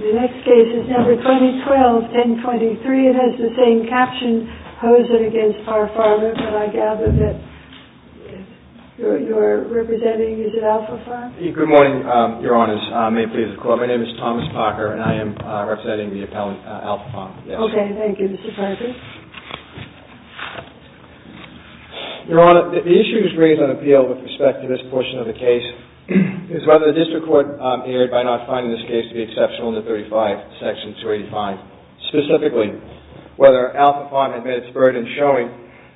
The next case is number 2012-1023. It has the same caption, POZEN v. PAR PHARMA. But I gather that you are representing, is it ALPHA PHARMA? Good morning, Your Honors. My name is Thomas Parker and I am representing the appellant ALPHA PHARMA. Okay, thank you. Mr. Parker? Your Honor, the issue that is raised on appeal with respect to this portion of the case is whether the district court erred by not finding this case to be exceptional under 35, section 285. Specifically, whether ALPHA PHARMA had met its burden showing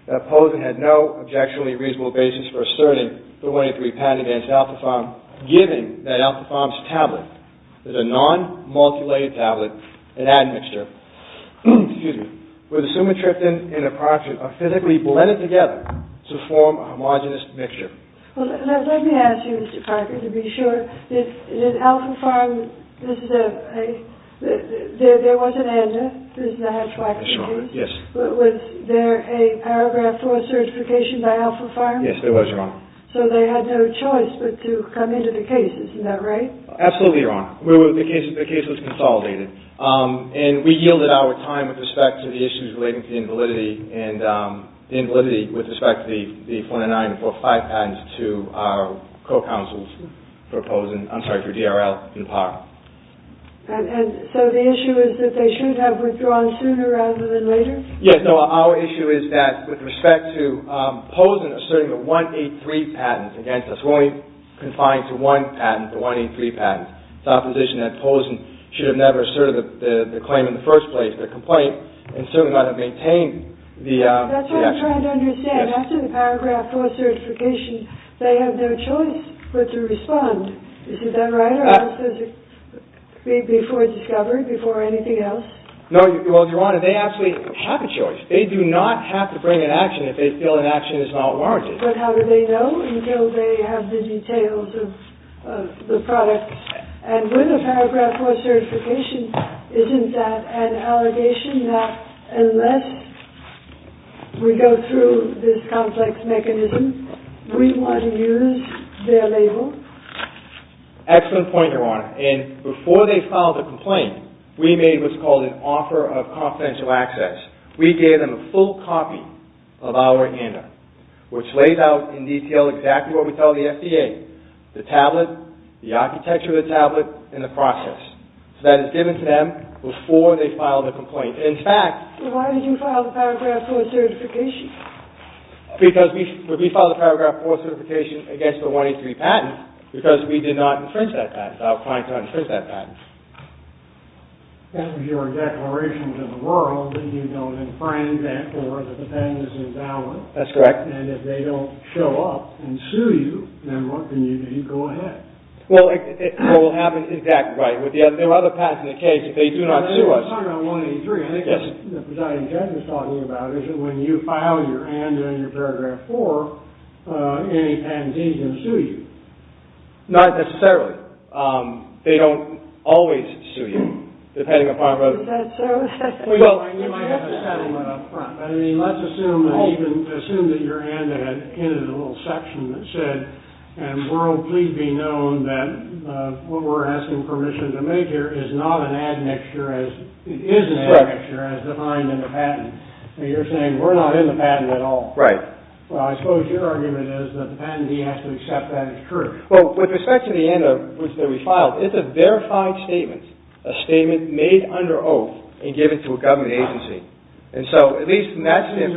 that POZEN had no objectionably reasonable basis for asserting 3183 patent against ALPHA PHARMA, giving that ALPHA PHARMA's tablet, a non-multilayer tablet, an admixture, with a sumatriptan and a proxion, a physically blended together to form a homogenous mixture. Well, let me ask you, Mr. Parker, to be sure. Did ALPHA PHARMA, there was an ANDA. Yes, Your Honor. Was there a paragraph 4 certification by ALPHA PHARMA? Yes, there was, Your Honor. So they had no choice but to come into the case, isn't that right? Absolutely, Your Honor. The case was consolidated. And we yielded our time with respect to the issues relating to the invalidity with respect to the 409 and 405 patents to our co-counsels for POZEN, I'm sorry, for DRL and PARA. And so the issue is that they should have withdrawn sooner rather than later? Yes, no, our issue is that with respect to POZEN asserting the 183 patents against us. We're only confined to one patent, the 183 patents. It's our position that POZEN should have never asserted the claim in the first place, the complaint, and certainly not have maintained the action. That's what I'm trying to understand. After the paragraph 4 certification, they have no choice but to respond. Is that right? Before discovery, before anything else? No, Your Honor, they actually have a choice. They do not have to bring an action if they feel an action is not warranted. But how do they know until they have the details of the product? And with the paragraph 4 certification, isn't that an allegation that unless we go through this complex mechanism, we want to use their label? Excellent point, Your Honor. And before they filed a complaint, we made what's called an offer of confidential access. We gave them a full copy of our handout, which lays out in detail exactly what we tell the FDA, the tablet, the architecture of the tablet, and the process. So that is given to them before they file the complaint. In fact… But why did you file the paragraph 4 certification? Because we filed the paragraph 4 certification against the 183 patent because we did not infringe that patent. I was trying to infringe that patent. That was your declaration to the world that you don't infringe that or that the patent is invalid. That's correct. And if they don't show up and sue you, remember, then you go ahead. Well, it will happen exactly right. There are other patents in the case. If they do not sue us… Well, it's not about 183. I think that's what the presiding judge was talking about, is that when you file your hand in your paragraph 4, any patent agency will sue you. Not necessarily. They don't always sue you, depending upon whether… Is that so? You might have to settle it up front. I mean, let's assume that your hand in it is a little section that said, and world please be known that what we're asking permission to make here is not an admixture, it is an admixture as defined in the patent. And you're saying we're not in the patent at all. Right. Well, I suppose your argument is that the patentee has to accept that it's true. Well, with respect to the hand that we filed, it's a verified statement. A statement made under oath and given to a government agency. And so, at least in that sense…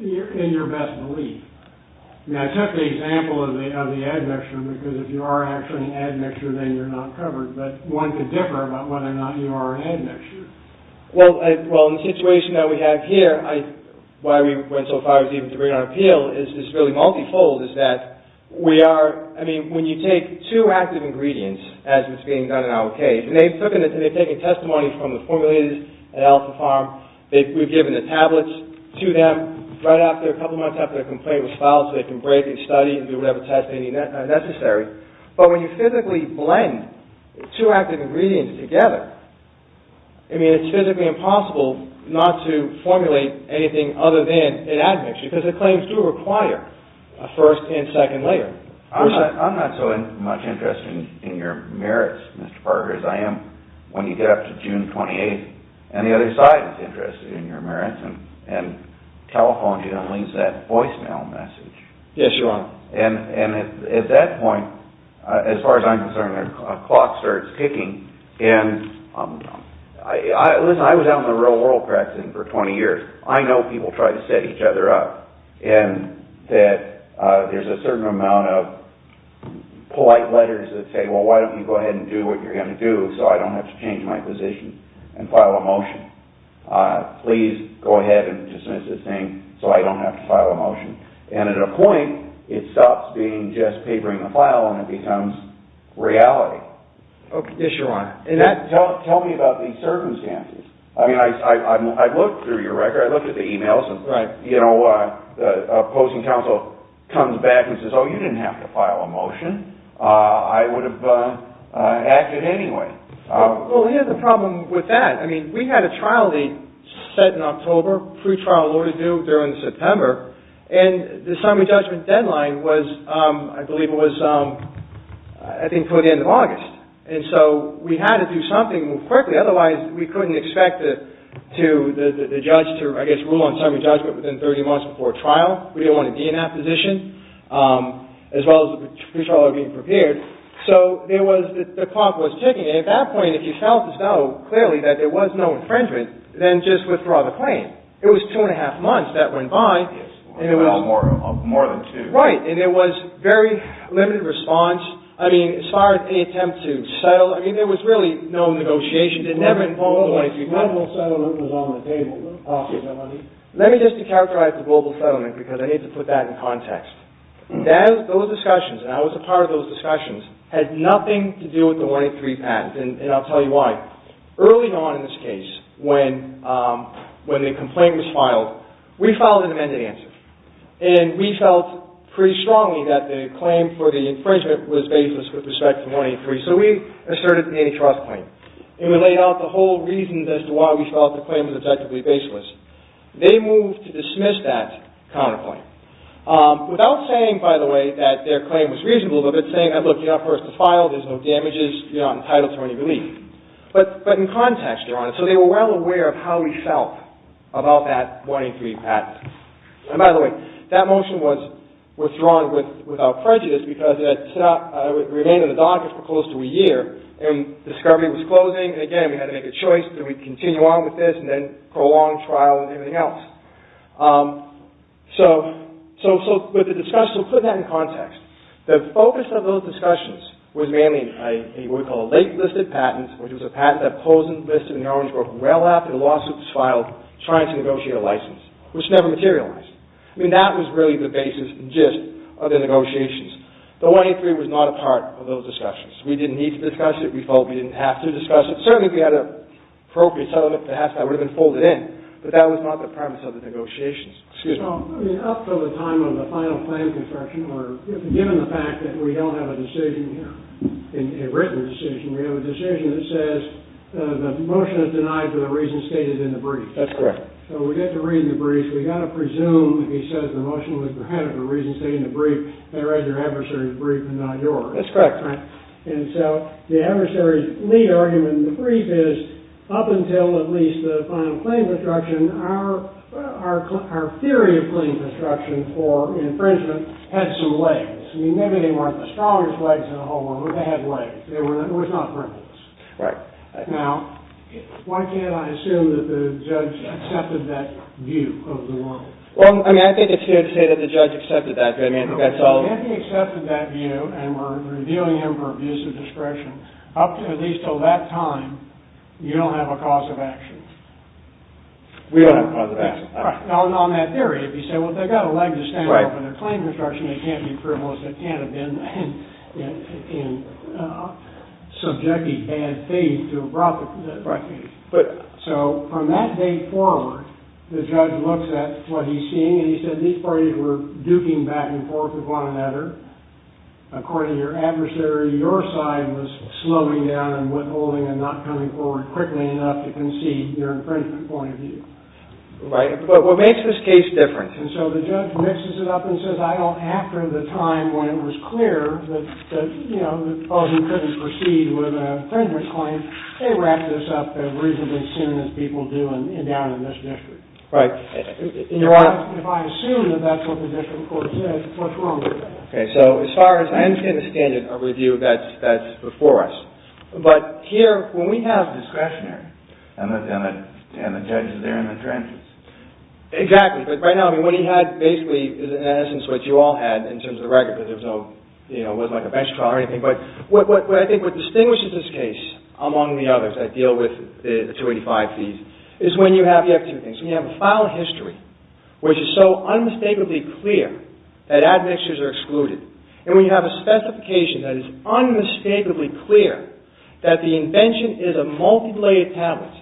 In your best belief. Now, take the example of the admixture, because if you are actually an admixture, then you're not covered. But one could differ about whether or not you are an admixture. Well, in the situation that we have here, why we went so far as even to bring it on appeal is this really multifold, is that we are, I mean, when you take two active ingredients, as is being done in our case, and they've taken testimony from the formulators at Alpha Farm. We've given the tablets to them right after, a couple months after the complaint was filed, so they can break and study and do whatever testing is necessary. But when you physically blend two active ingredients together, I mean, it's physically impossible not to formulate anything other than an admixture, because the claims do require a first and second layer. I'm not so much interested in your merits, Mr. Parker, as I am when you get up to June 28th, and the other side is interested in your merits and telephones you to release that voicemail message. Yes, you are. And at that point, as far as I'm concerned, the clock starts ticking. And, listen, I was out in the real world practicing for 20 years. I know people try to set each other up, and that there's a certain amount of polite letters that say, well, why don't you go ahead and do what you're going to do so I don't have to change my position and file a motion. Please go ahead and dismiss this thing so I don't have to file a motion. And at a point, it stops being just papering a file and it becomes reality. Yes, you're right. And tell me about these circumstances. I mean, I looked through your record. I looked at the e-mails. Right. You know, opposing counsel comes back and says, oh, you didn't have to file a motion. I would have acted anyway. Well, here's the problem with that. I mean, we had a trial date set in October, pre-trial order due during September, and the summary judgment deadline was, I believe it was, I think, toward the end of August. And so we had to do something quickly, otherwise we couldn't expect the judge to, I guess, rule on summary judgment within 30 months before trial. We didn't want a DNF position, as well as the pre-trial order being prepared. So the clock was ticking, and at that point, if you felt as though, clearly, that there was no infringement, then just withdraw the claim. It was two and a half months that went by. More than two. Right. And there was very limited response. I mean, as far as the attempt to settle, I mean, there was really no negotiation. The global settlement was on the table. Let me just de-characterize the global settlement, because I need to put that in context. Those discussions, and I was a part of those discussions, had nothing to do with the 183 patent, and I'll tell you why. Early on in this case, when the complaint was filed, we filed an amended answer. And we felt pretty strongly that the claim for the infringement was baseless with respect to 183. So we asserted the antitrust claim, and we laid out the whole reasons as to why we felt the claim was objectively baseless. They moved to dismiss that counterclaim, without saying, by the way, that their claim was reasonable, but saying, look, you're not forced to file, there's no damages, you're not entitled to any relief. But in context, they're honest. So they were well aware of how we felt about that 183 patent. And by the way, that motion was withdrawn without prejudice, because it remained in the docket for close to a year, and discovery was closing, and again, we had to make a choice, do we continue on with this, and then prolong trial, and everything else. So, with the discussion, we'll put that in context. The focus of those discussions was mainly what we call a late-listed patent, which was a patent that posed a list of knowns, trying to negotiate a license, which never materialized. I mean, that was really the basis and gist of the negotiations. The 183 was not a part of those discussions. We didn't need to discuss it, we felt we didn't have to discuss it. Certainly, if we had an appropriate settlement, perhaps that would have been folded in, but that was not the premise of the negotiations. Excuse me. Well, I mean, up to the time of the final claim construction, or given the fact that we don't have a decision here, a written decision, we have a decision that says the motion is denied for the reasons stated in the brief. That's correct. So, we get the reason in the brief, we've got to presume, if he says the motion was denied for the reasons stated in the brief, that it was your adversary's brief and not yours. That's correct, Frank. And so, the adversary's lead argument in the brief is, up until at least the final claim construction, our theory of claim construction for infringement had some legs. I mean, maybe they weren't the strongest legs in the whole world, but they had legs. They were not frivolous. Right. Now, why can't I assume that the judge accepted that view of the law? Well, I mean, I think it's fair to say that the judge accepted that view. If he accepted that view and we're reviewing him for abuse of discretion, up to at least until that time, you don't have a cause of action. We don't have a cause of action. Now, on that theory, if you say, well, they've got a leg to stand up for their claim construction, they can't be frivolous. They can't have been in subjectly bad faith to have brought the case. So, from that day forward, the judge looks at what he's seeing and he says, these parties were duking back and forth with one another. According to your adversary, your side was slowing down and withholding and not coming forward quickly enough to concede your infringement point of view. Right. But what makes this case different? And so the judge mixes it up and says, well, after the time when it was clear that, you know, that both of you couldn't proceed with an infringement claim, they wrapped this up as reasonably soon as people do down in this district. Right. If I assume that that's what the district court said, what's wrong with that? Okay, so as far as I understand the standard of review, that's before us. But here, when we have discretionary. And the judge is there in the trenches. Exactly. But right now, I mean, what he had basically is in essence what you all had in terms of the record, because there was no, you know, it wasn't like a bench trial or anything. But what I think what distinguishes this case among the others that deal with the 285 fees is when you have, you have two things. When you have a file of history, which is so unmistakably clear that admixtures are excluded, and when you have a specification that is unmistakably clear that the invention is a multilayered tablet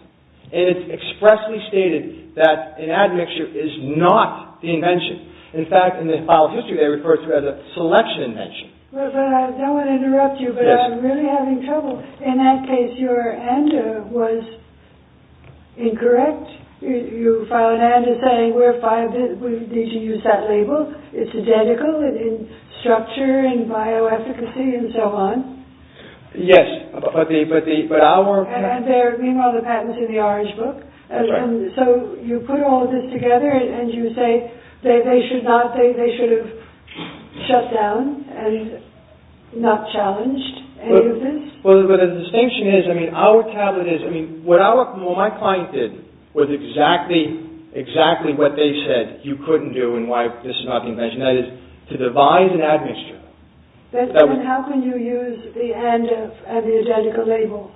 and it's expressly stated that an admixture is not the invention. In fact, in the file of history, they refer to it as a selection invention. But I don't want to interrupt you, but I'm really having trouble. In that case, your ANDA was incorrect. You filed an ANDA saying we're five, we need to use that label. It's identical in structure and bioefficacy and so on. Yes, but our... And there, meanwhile, the patent's in the orange book. That's right. And so you put all of this together and you say they should not, they should have shut down and not challenged any of this? Well, the distinction is, I mean, our tablet is, I mean, what our, what my client did was exactly, exactly what they said you couldn't do and why this is not the invention. That is, to devise an admixture. Then how can you use the ANDA and the identical label?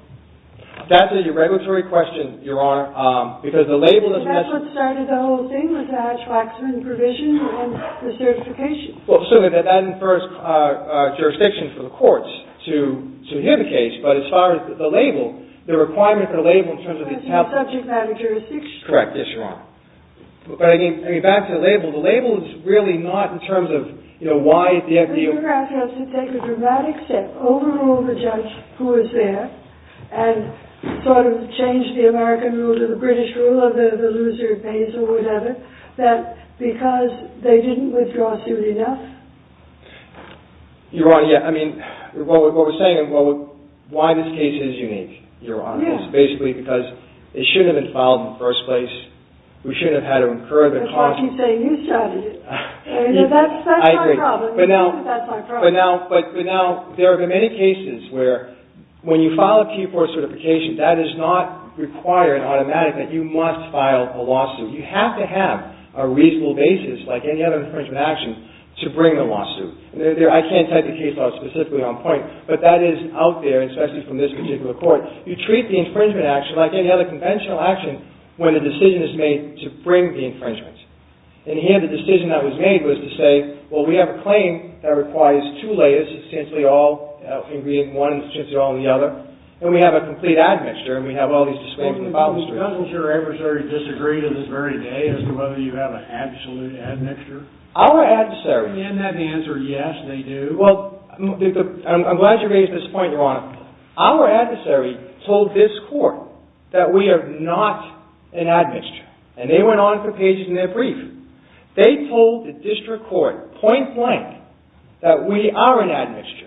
That's a regulatory question, Your Honor, because the label is... Isn't that what started the whole thing with the Hatch-Waxman provision and the certification? Well, certainly that infers jurisdiction for the courts to hear the case, but as far as the label, the requirement for the label in terms of the tablet... That's not subject matter jurisdiction. Correct, yes, Your Honor. But, I mean, back to the label. The label is really not in terms of, you know, why the FDA... Your Honor, yeah, I mean, what we're saying is why this case is unique, Your Honor, is basically because it shouldn't have been filed in the first place. We shouldn't have had to incur the cost... That's why I keep saying you started it. You know, that's my problem. I agree, but now... That's my problem. But now, there have been many cases where when you file a Q4 certification, that does not require an automatic that you must file a lawsuit. You have to have a reasonable basis, like any other infringement action, to bring the lawsuit. I can't take the case out specifically on point, but that is out there, especially from this particular court. You treat the infringement action like any other conventional action when the decision is made to bring the infringement. And here, the decision that was made was to say, well, we have a claim that requires two layers, substantially all in one, substantially all in the other, and we have a complete admixture, and we have all these disclaims in the file history. Does your adversary disagree to this very day as to whether you have an absolute admixture? Our adversary... Isn't that the answer, yes, they do? I'm glad you raised this point, Your Honor. Our adversary told this court that we are not an admixture, and they went on to put pages in their brief. They told the district court, point blank, that we are an admixture,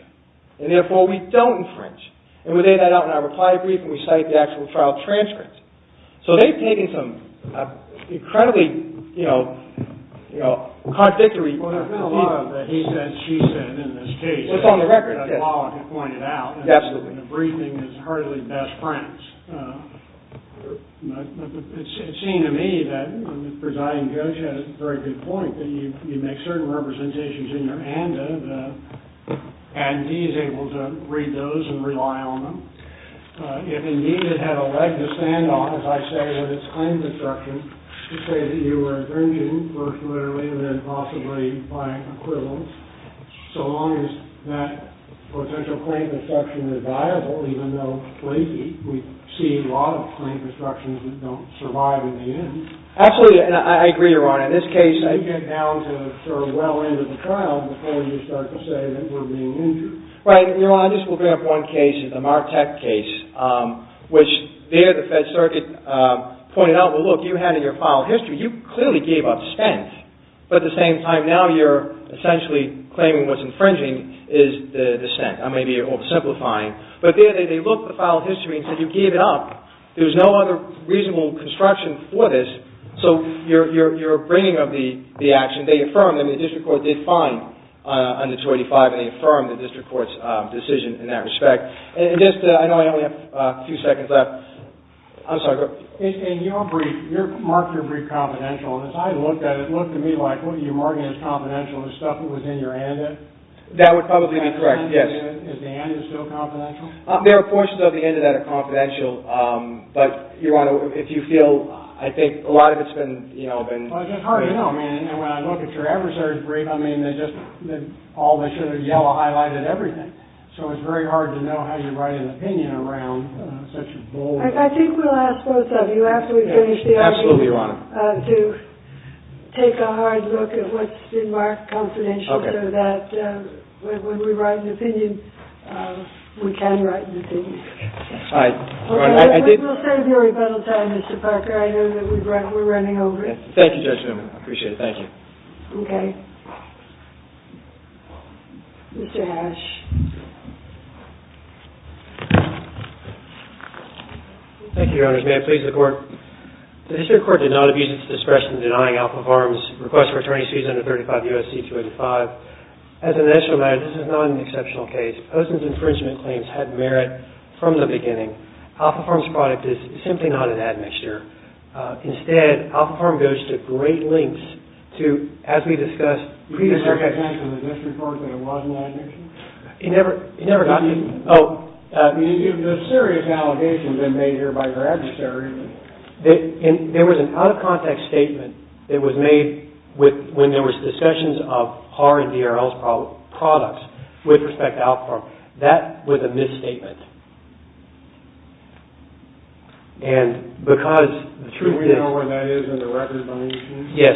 and therefore, we don't infringe. And we laid that out in our reply brief, and we cite the actual trial transcripts. So they've taken some incredibly contradictory... Well, there's been a lot of the he said, she said in this case. It's on the record case. As Monica pointed out. Absolutely. And the briefing is hardly best friends. It seemed to me that the presiding judge had a very good point, that you make certain representations in your ANDA, and he's able to read those and rely on them. If, indeed, it had a leg to stand on, as I say, with its claims instructions, to say that you were infringing, first literally, and then possibly by equivalence, so long as that potential claim instruction is viable, even though lately we've seen a lot of claim instructions that don't survive in the end. Absolutely. And I agree, Your Honor. In this case, I get down to sort of well into the trial, before you start to say that we're being injured. Right. Your Honor, I just will bring up one case. It's a Martec case, which there the Fed Circuit pointed out, well, look, you had in your file history, you clearly gave up spent. But at the same time, now you're essentially claiming what's infringing is the spent. I may be oversimplifying. But there they looked at the file history and said, you gave it up. There's no other reasonable construction for this. So you're bringing up the action. They affirmed, and the district court did fine under 285, and they affirmed the district court's decision in that respect. And just, I know I only have a few seconds left. I'm sorry. In your brief, you marked your brief confidential. And as I looked at it, it looked to me like, well, you're marking it as confidential. Is stuff that was in your antidote? That would probably be correct, yes. Is the antidote still confidential? There are portions of the antidote that are confidential. But, Your Honor, if you feel, I think a lot of it's been, you know, been. Well, it's hard to know. I mean, when I look at your adversary's brief, I mean, they just all they should have yellow highlighted everything. So it's very hard to know how you write an opinion around such a bold. I think we'll ask both of you after we finish the argument. Absolutely, Your Honor. To take a hard look at what's been marked confidential. Okay. So that when we write an opinion, we can write an opinion. All right. We'll save your rebuttal time, Mr. Parker. I know that we're running over it. Thank you, Judge Newman. I appreciate it. Thank you. Okay. Mr. Hash. Thank you, Your Honors. May it please the Court. The district court did not abuse its discretion in denying Alpha Farm's request for attorney's fees under 35 U.S.C. 285. As a national matter, this is not an exceptional case. Osen's infringement claims had merit from the beginning. Alpha Farm's product is simply not an admixture. Instead, Alpha Farm goes to great lengths to, as we discussed, pre-discussion. Did you pay attention to the district court that it was an admixture? It never got to me. Oh. The serious allegations have been made here by your adversaries. There was an out-of-context statement that was made when there was discussions of Haar and DRL's products with respect to Alpha Farm. That was a misstatement. And because the truth is... Should we know where that is in the record by any chance? Yes.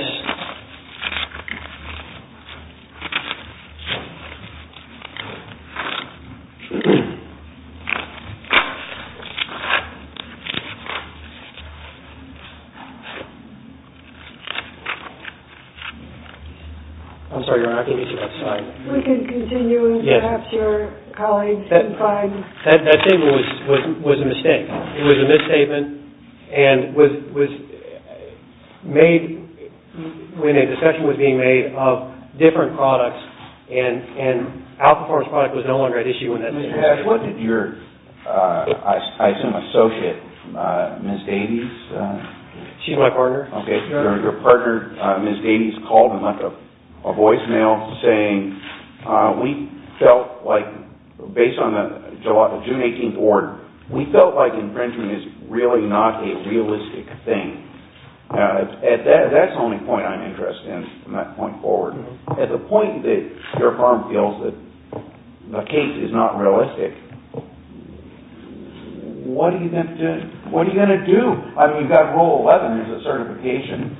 I'm sorry, Your Honor. I can't get to that slide. We can continue and perhaps your colleagues can find... That statement was a mistake. It was a misstatement and was made when a discussion was being made of different products and Alpha Farm's product was no longer at issue in that situation. What did your, I assume, associate, Ms. Davies... She's my partner. Okay. Your partner, Ms. Davies, called in a voicemail saying, we felt like, based on the June 18th order, we felt like infringement is really not a realistic thing. That's the only point I'm interested in from that point forward. At the point that your firm feels that the case is not realistic, what are you going to do? I mean, you've got Rule 11 as a certification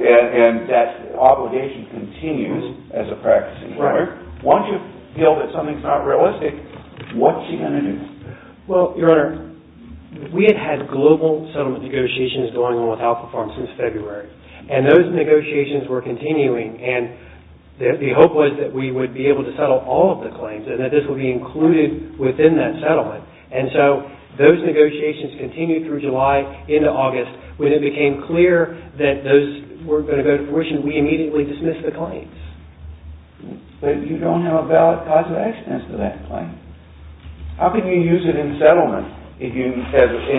and that obligation continues as a practicing lawyer. Once you feel that something's not realistic, what are you going to do? Well, Your Honor, we had had global settlement negotiations going on with Alpha Farm since February, and those negotiations were continuing, and the hope was that we would be able to settle all of the claims and that this would be included within that settlement. And so those negotiations continued through July into August when it became clear that those weren't going to go to fruition, we immediately dismissed the claims. But you don't have a valid cause of accidents to that claim. How can you use it in settlement? In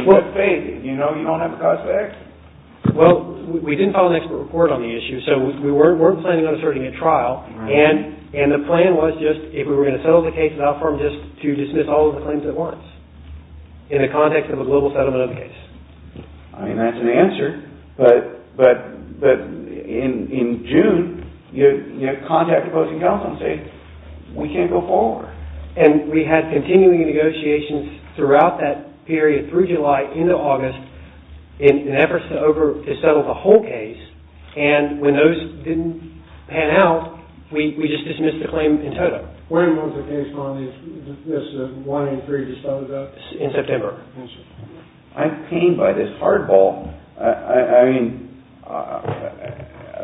what way did you know you don't have a cause of accident? Well, we didn't file an expert report on the issue, so we weren't planning on asserting a trial, and the plan was just, if we were going to settle the case with Alpha Farm, just to dismiss all of the claims at once in the context of a global settlement of the case. I mean, that's an answer, but in June, you had contact opposing counsel say, we can't go forward. And we had continuing negotiations throughout that period through July into August in efforts to settle the whole case, and when those didn't pan out, we just dismissed the claim in total. When was the case, Monty? Is this the one in three that started out? In September. I'm pained by this hardball. I mean,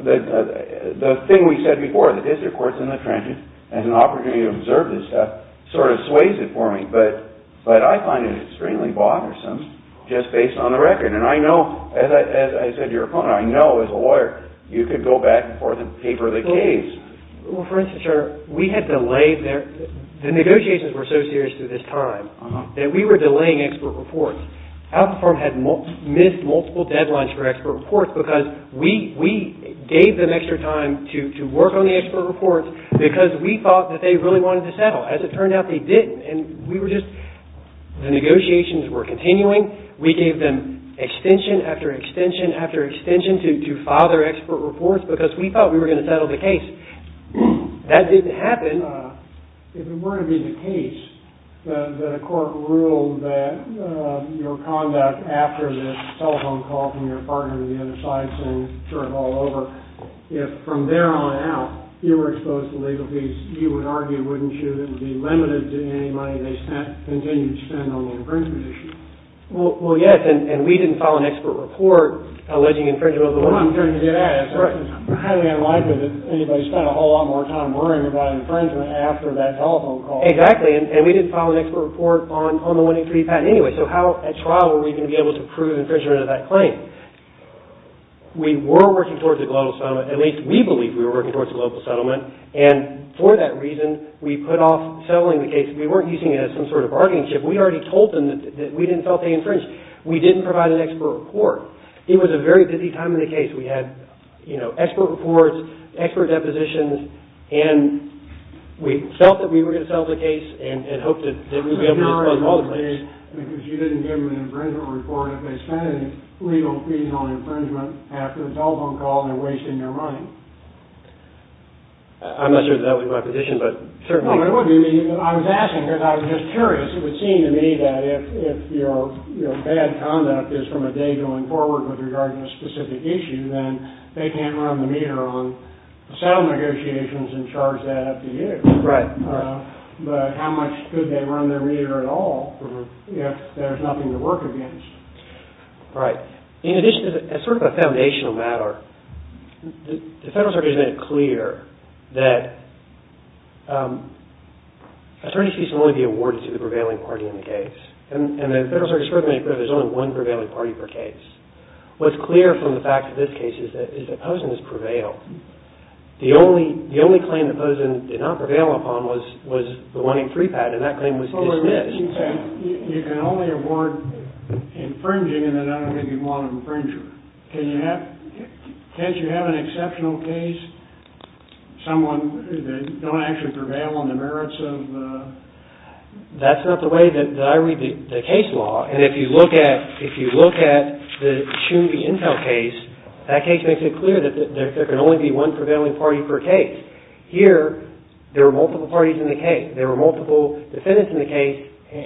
the thing we said before, the district court's in the trenches, has an opportunity to observe this stuff, sort of sways it for me, but I find it extremely bothersome just based on the record, and I know, as I said to your opponent, I know as a lawyer, you could go back and forth and paper the case. Well, for instance, sir, we had delayed there. The negotiations were so serious through this time that we were delaying expert reports. Alpha Farm had missed multiple deadlines for expert reports because we gave them extra time to work on the expert reports because we thought that they really wanted to settle. As it turned out, they didn't, and we were just the negotiations were continuing. We gave them extension after extension after extension to file their expert reports because we thought we were going to settle the case. That didn't happen. If it were to be the case that a court ruled that your conduct after this telephone call from your partner to the other side saying, sort of all over, if from there on out you were exposed to legal fees, you would argue, wouldn't you, that it would be limited to any money they continued to spend on the infringement issue? Well, yes, and we didn't file an expert report alleging infringement of the law. I'm trying to get at it. It's highly unlikely that anybody spent a whole lot more time worrying about infringement after that telephone call. Exactly, and we didn't file an expert report on the 103 patent anyway, so how at trial were we going to be able to prove infringement of that claim? We were working towards a global settlement, at least we believe we were working towards a global settlement, and for that reason we put off settling the case. We weren't using it as some sort of bargaining chip. We already told them that we didn't feel they infringed. We didn't provide an expert report. It was a very busy time in the case. We had expert reports, expert depositions, and we felt that we were going to settle the case and hoped that we would be able to expose all the claims. Because you didn't give them an infringement report. If they spent legal fees on infringement after the telephone call, they're wasting their money. I'm not sure that would be my position, but certainly. No, it wouldn't be. I was asking because I was just curious. It would seem to me that if your bad conduct is from a day going forward with regard to a specific issue, then they can't run the meter on settlement negotiations and charge that up to you. Right. But how much could they run their meter at all if there's nothing to work against? Right. In addition, as sort of a foundational matter, the Federal Circuit has made it clear that attorneys can only be awarded to the prevailing party in the case. And the Federal Circuit has made it clear that there's only one prevailing party per case. What's clear from the fact of this case is that Posen has prevailed. The only claim that Posen did not prevail upon was the 183 patent. That claim was dismissed. You can only award infringing and then I don't think you'd want an infringer. Can't you have an exceptional case, someone that doesn't actually prevail on the merits of the... That's not the way that I read the case law. And if you look at the Chumby Intel case, that case makes it clear that there can only be one prevailing party per case. Here, there are multiple parties in the case. There are multiple defendants in the case.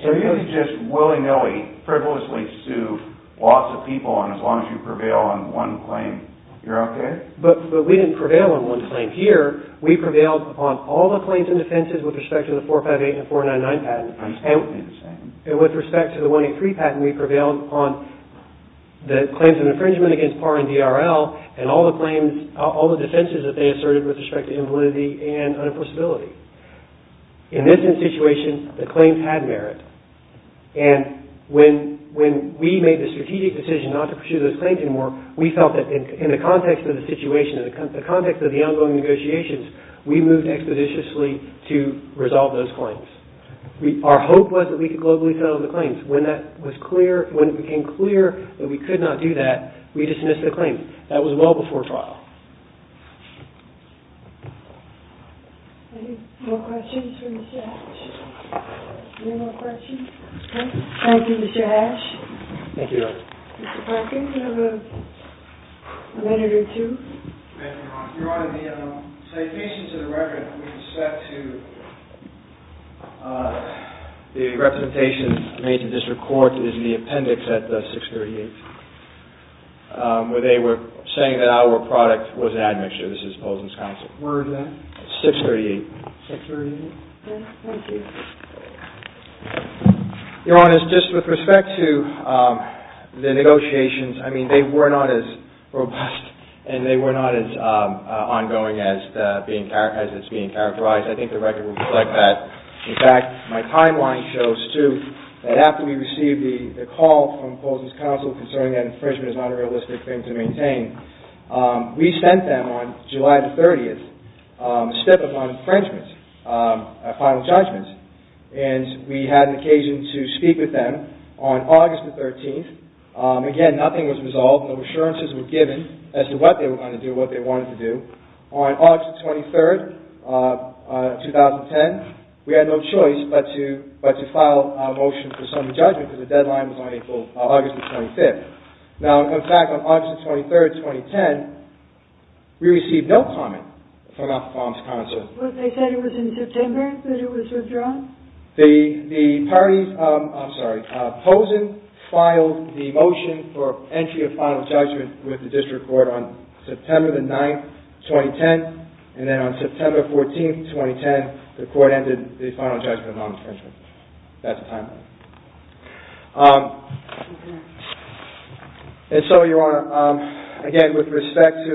So you can just willy-nilly, frivolously sue lots of people as long as you prevail on one claim. You're okay? But we didn't prevail on one claim. Here, we prevailed on all the claims and defenses with respect to the 458 and 499 patents. I understand what you're saying. And with respect to the 183 patent, we prevailed on the claims of infringement against PAR and DRL and all the claims, all the defenses that they asserted with respect to invalidity and unenforceability. In this situation, the claims had merit. And when we made the strategic decision not to pursue those claims anymore, we felt that in the context of the situation, in the context of the ongoing negotiations, we moved expeditiously to resolve those claims. Our hope was that we could globally settle the claims. When that was clear, when it became clear that we could not do that, we dismissed the claim. That was well before trial. Any more questions for Mr. Hash? Any more questions? Thank you, Mr. Hash. Thank you, Your Honor. Mr. Perkins, you have a minute or two. Thank you, Your Honor. Your Honor, the citations of the record with respect to the representation made to district court is in the appendix at 638, where they were saying that our product was an admixture. This is Polson's counsel. Where is that? 638. 638? Thank you. Your Honor, just with respect to the negotiations, I mean, they were not as robust and they were not as ongoing as it's being characterized. I think the record would reflect that. In fact, my timeline shows, too, that after we received the call from Polson's counsel concerning that infringement is not a realistic thing to maintain, we sent them on July the 30th a stip of an infringement, a final judgment, and we had an occasion to speak with them on August the 13th. Again, nothing was resolved. No assurances were given as to what they were going to do, what they wanted to do. On August the 23rd, 2010, we had no choice but to file a motion for summary judgment because the deadline was on August the 25th. Now, in fact, on August the 23rd, 2010, we received no comment from our counsel. They said it was in September that it was withdrawn? The parties, I'm sorry, Polson filed the motion for entry of final judgment with the district court on September the 9th, 2010, and then on September 14th, 2010, the court ended the final judgment on infringement. That's the timeline. And so, Your Honor, again, with respect to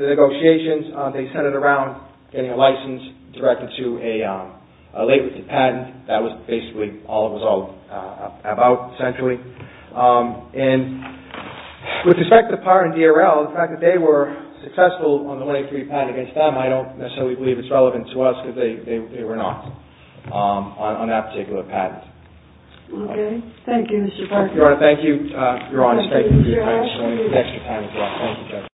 the negotiations, they centered around getting a license directed to a late patent. That was basically all it was all about, essentially. And with respect to the part in DRL, the fact that they were successful on the 183 patent against them, I don't necessarily believe it's relevant to us because they were not on that particular patent. Okay. Thank you, Mr. Parker. Your Honor, thank you. Your Honor, thank you for your patience. We'll need an extra patent for that.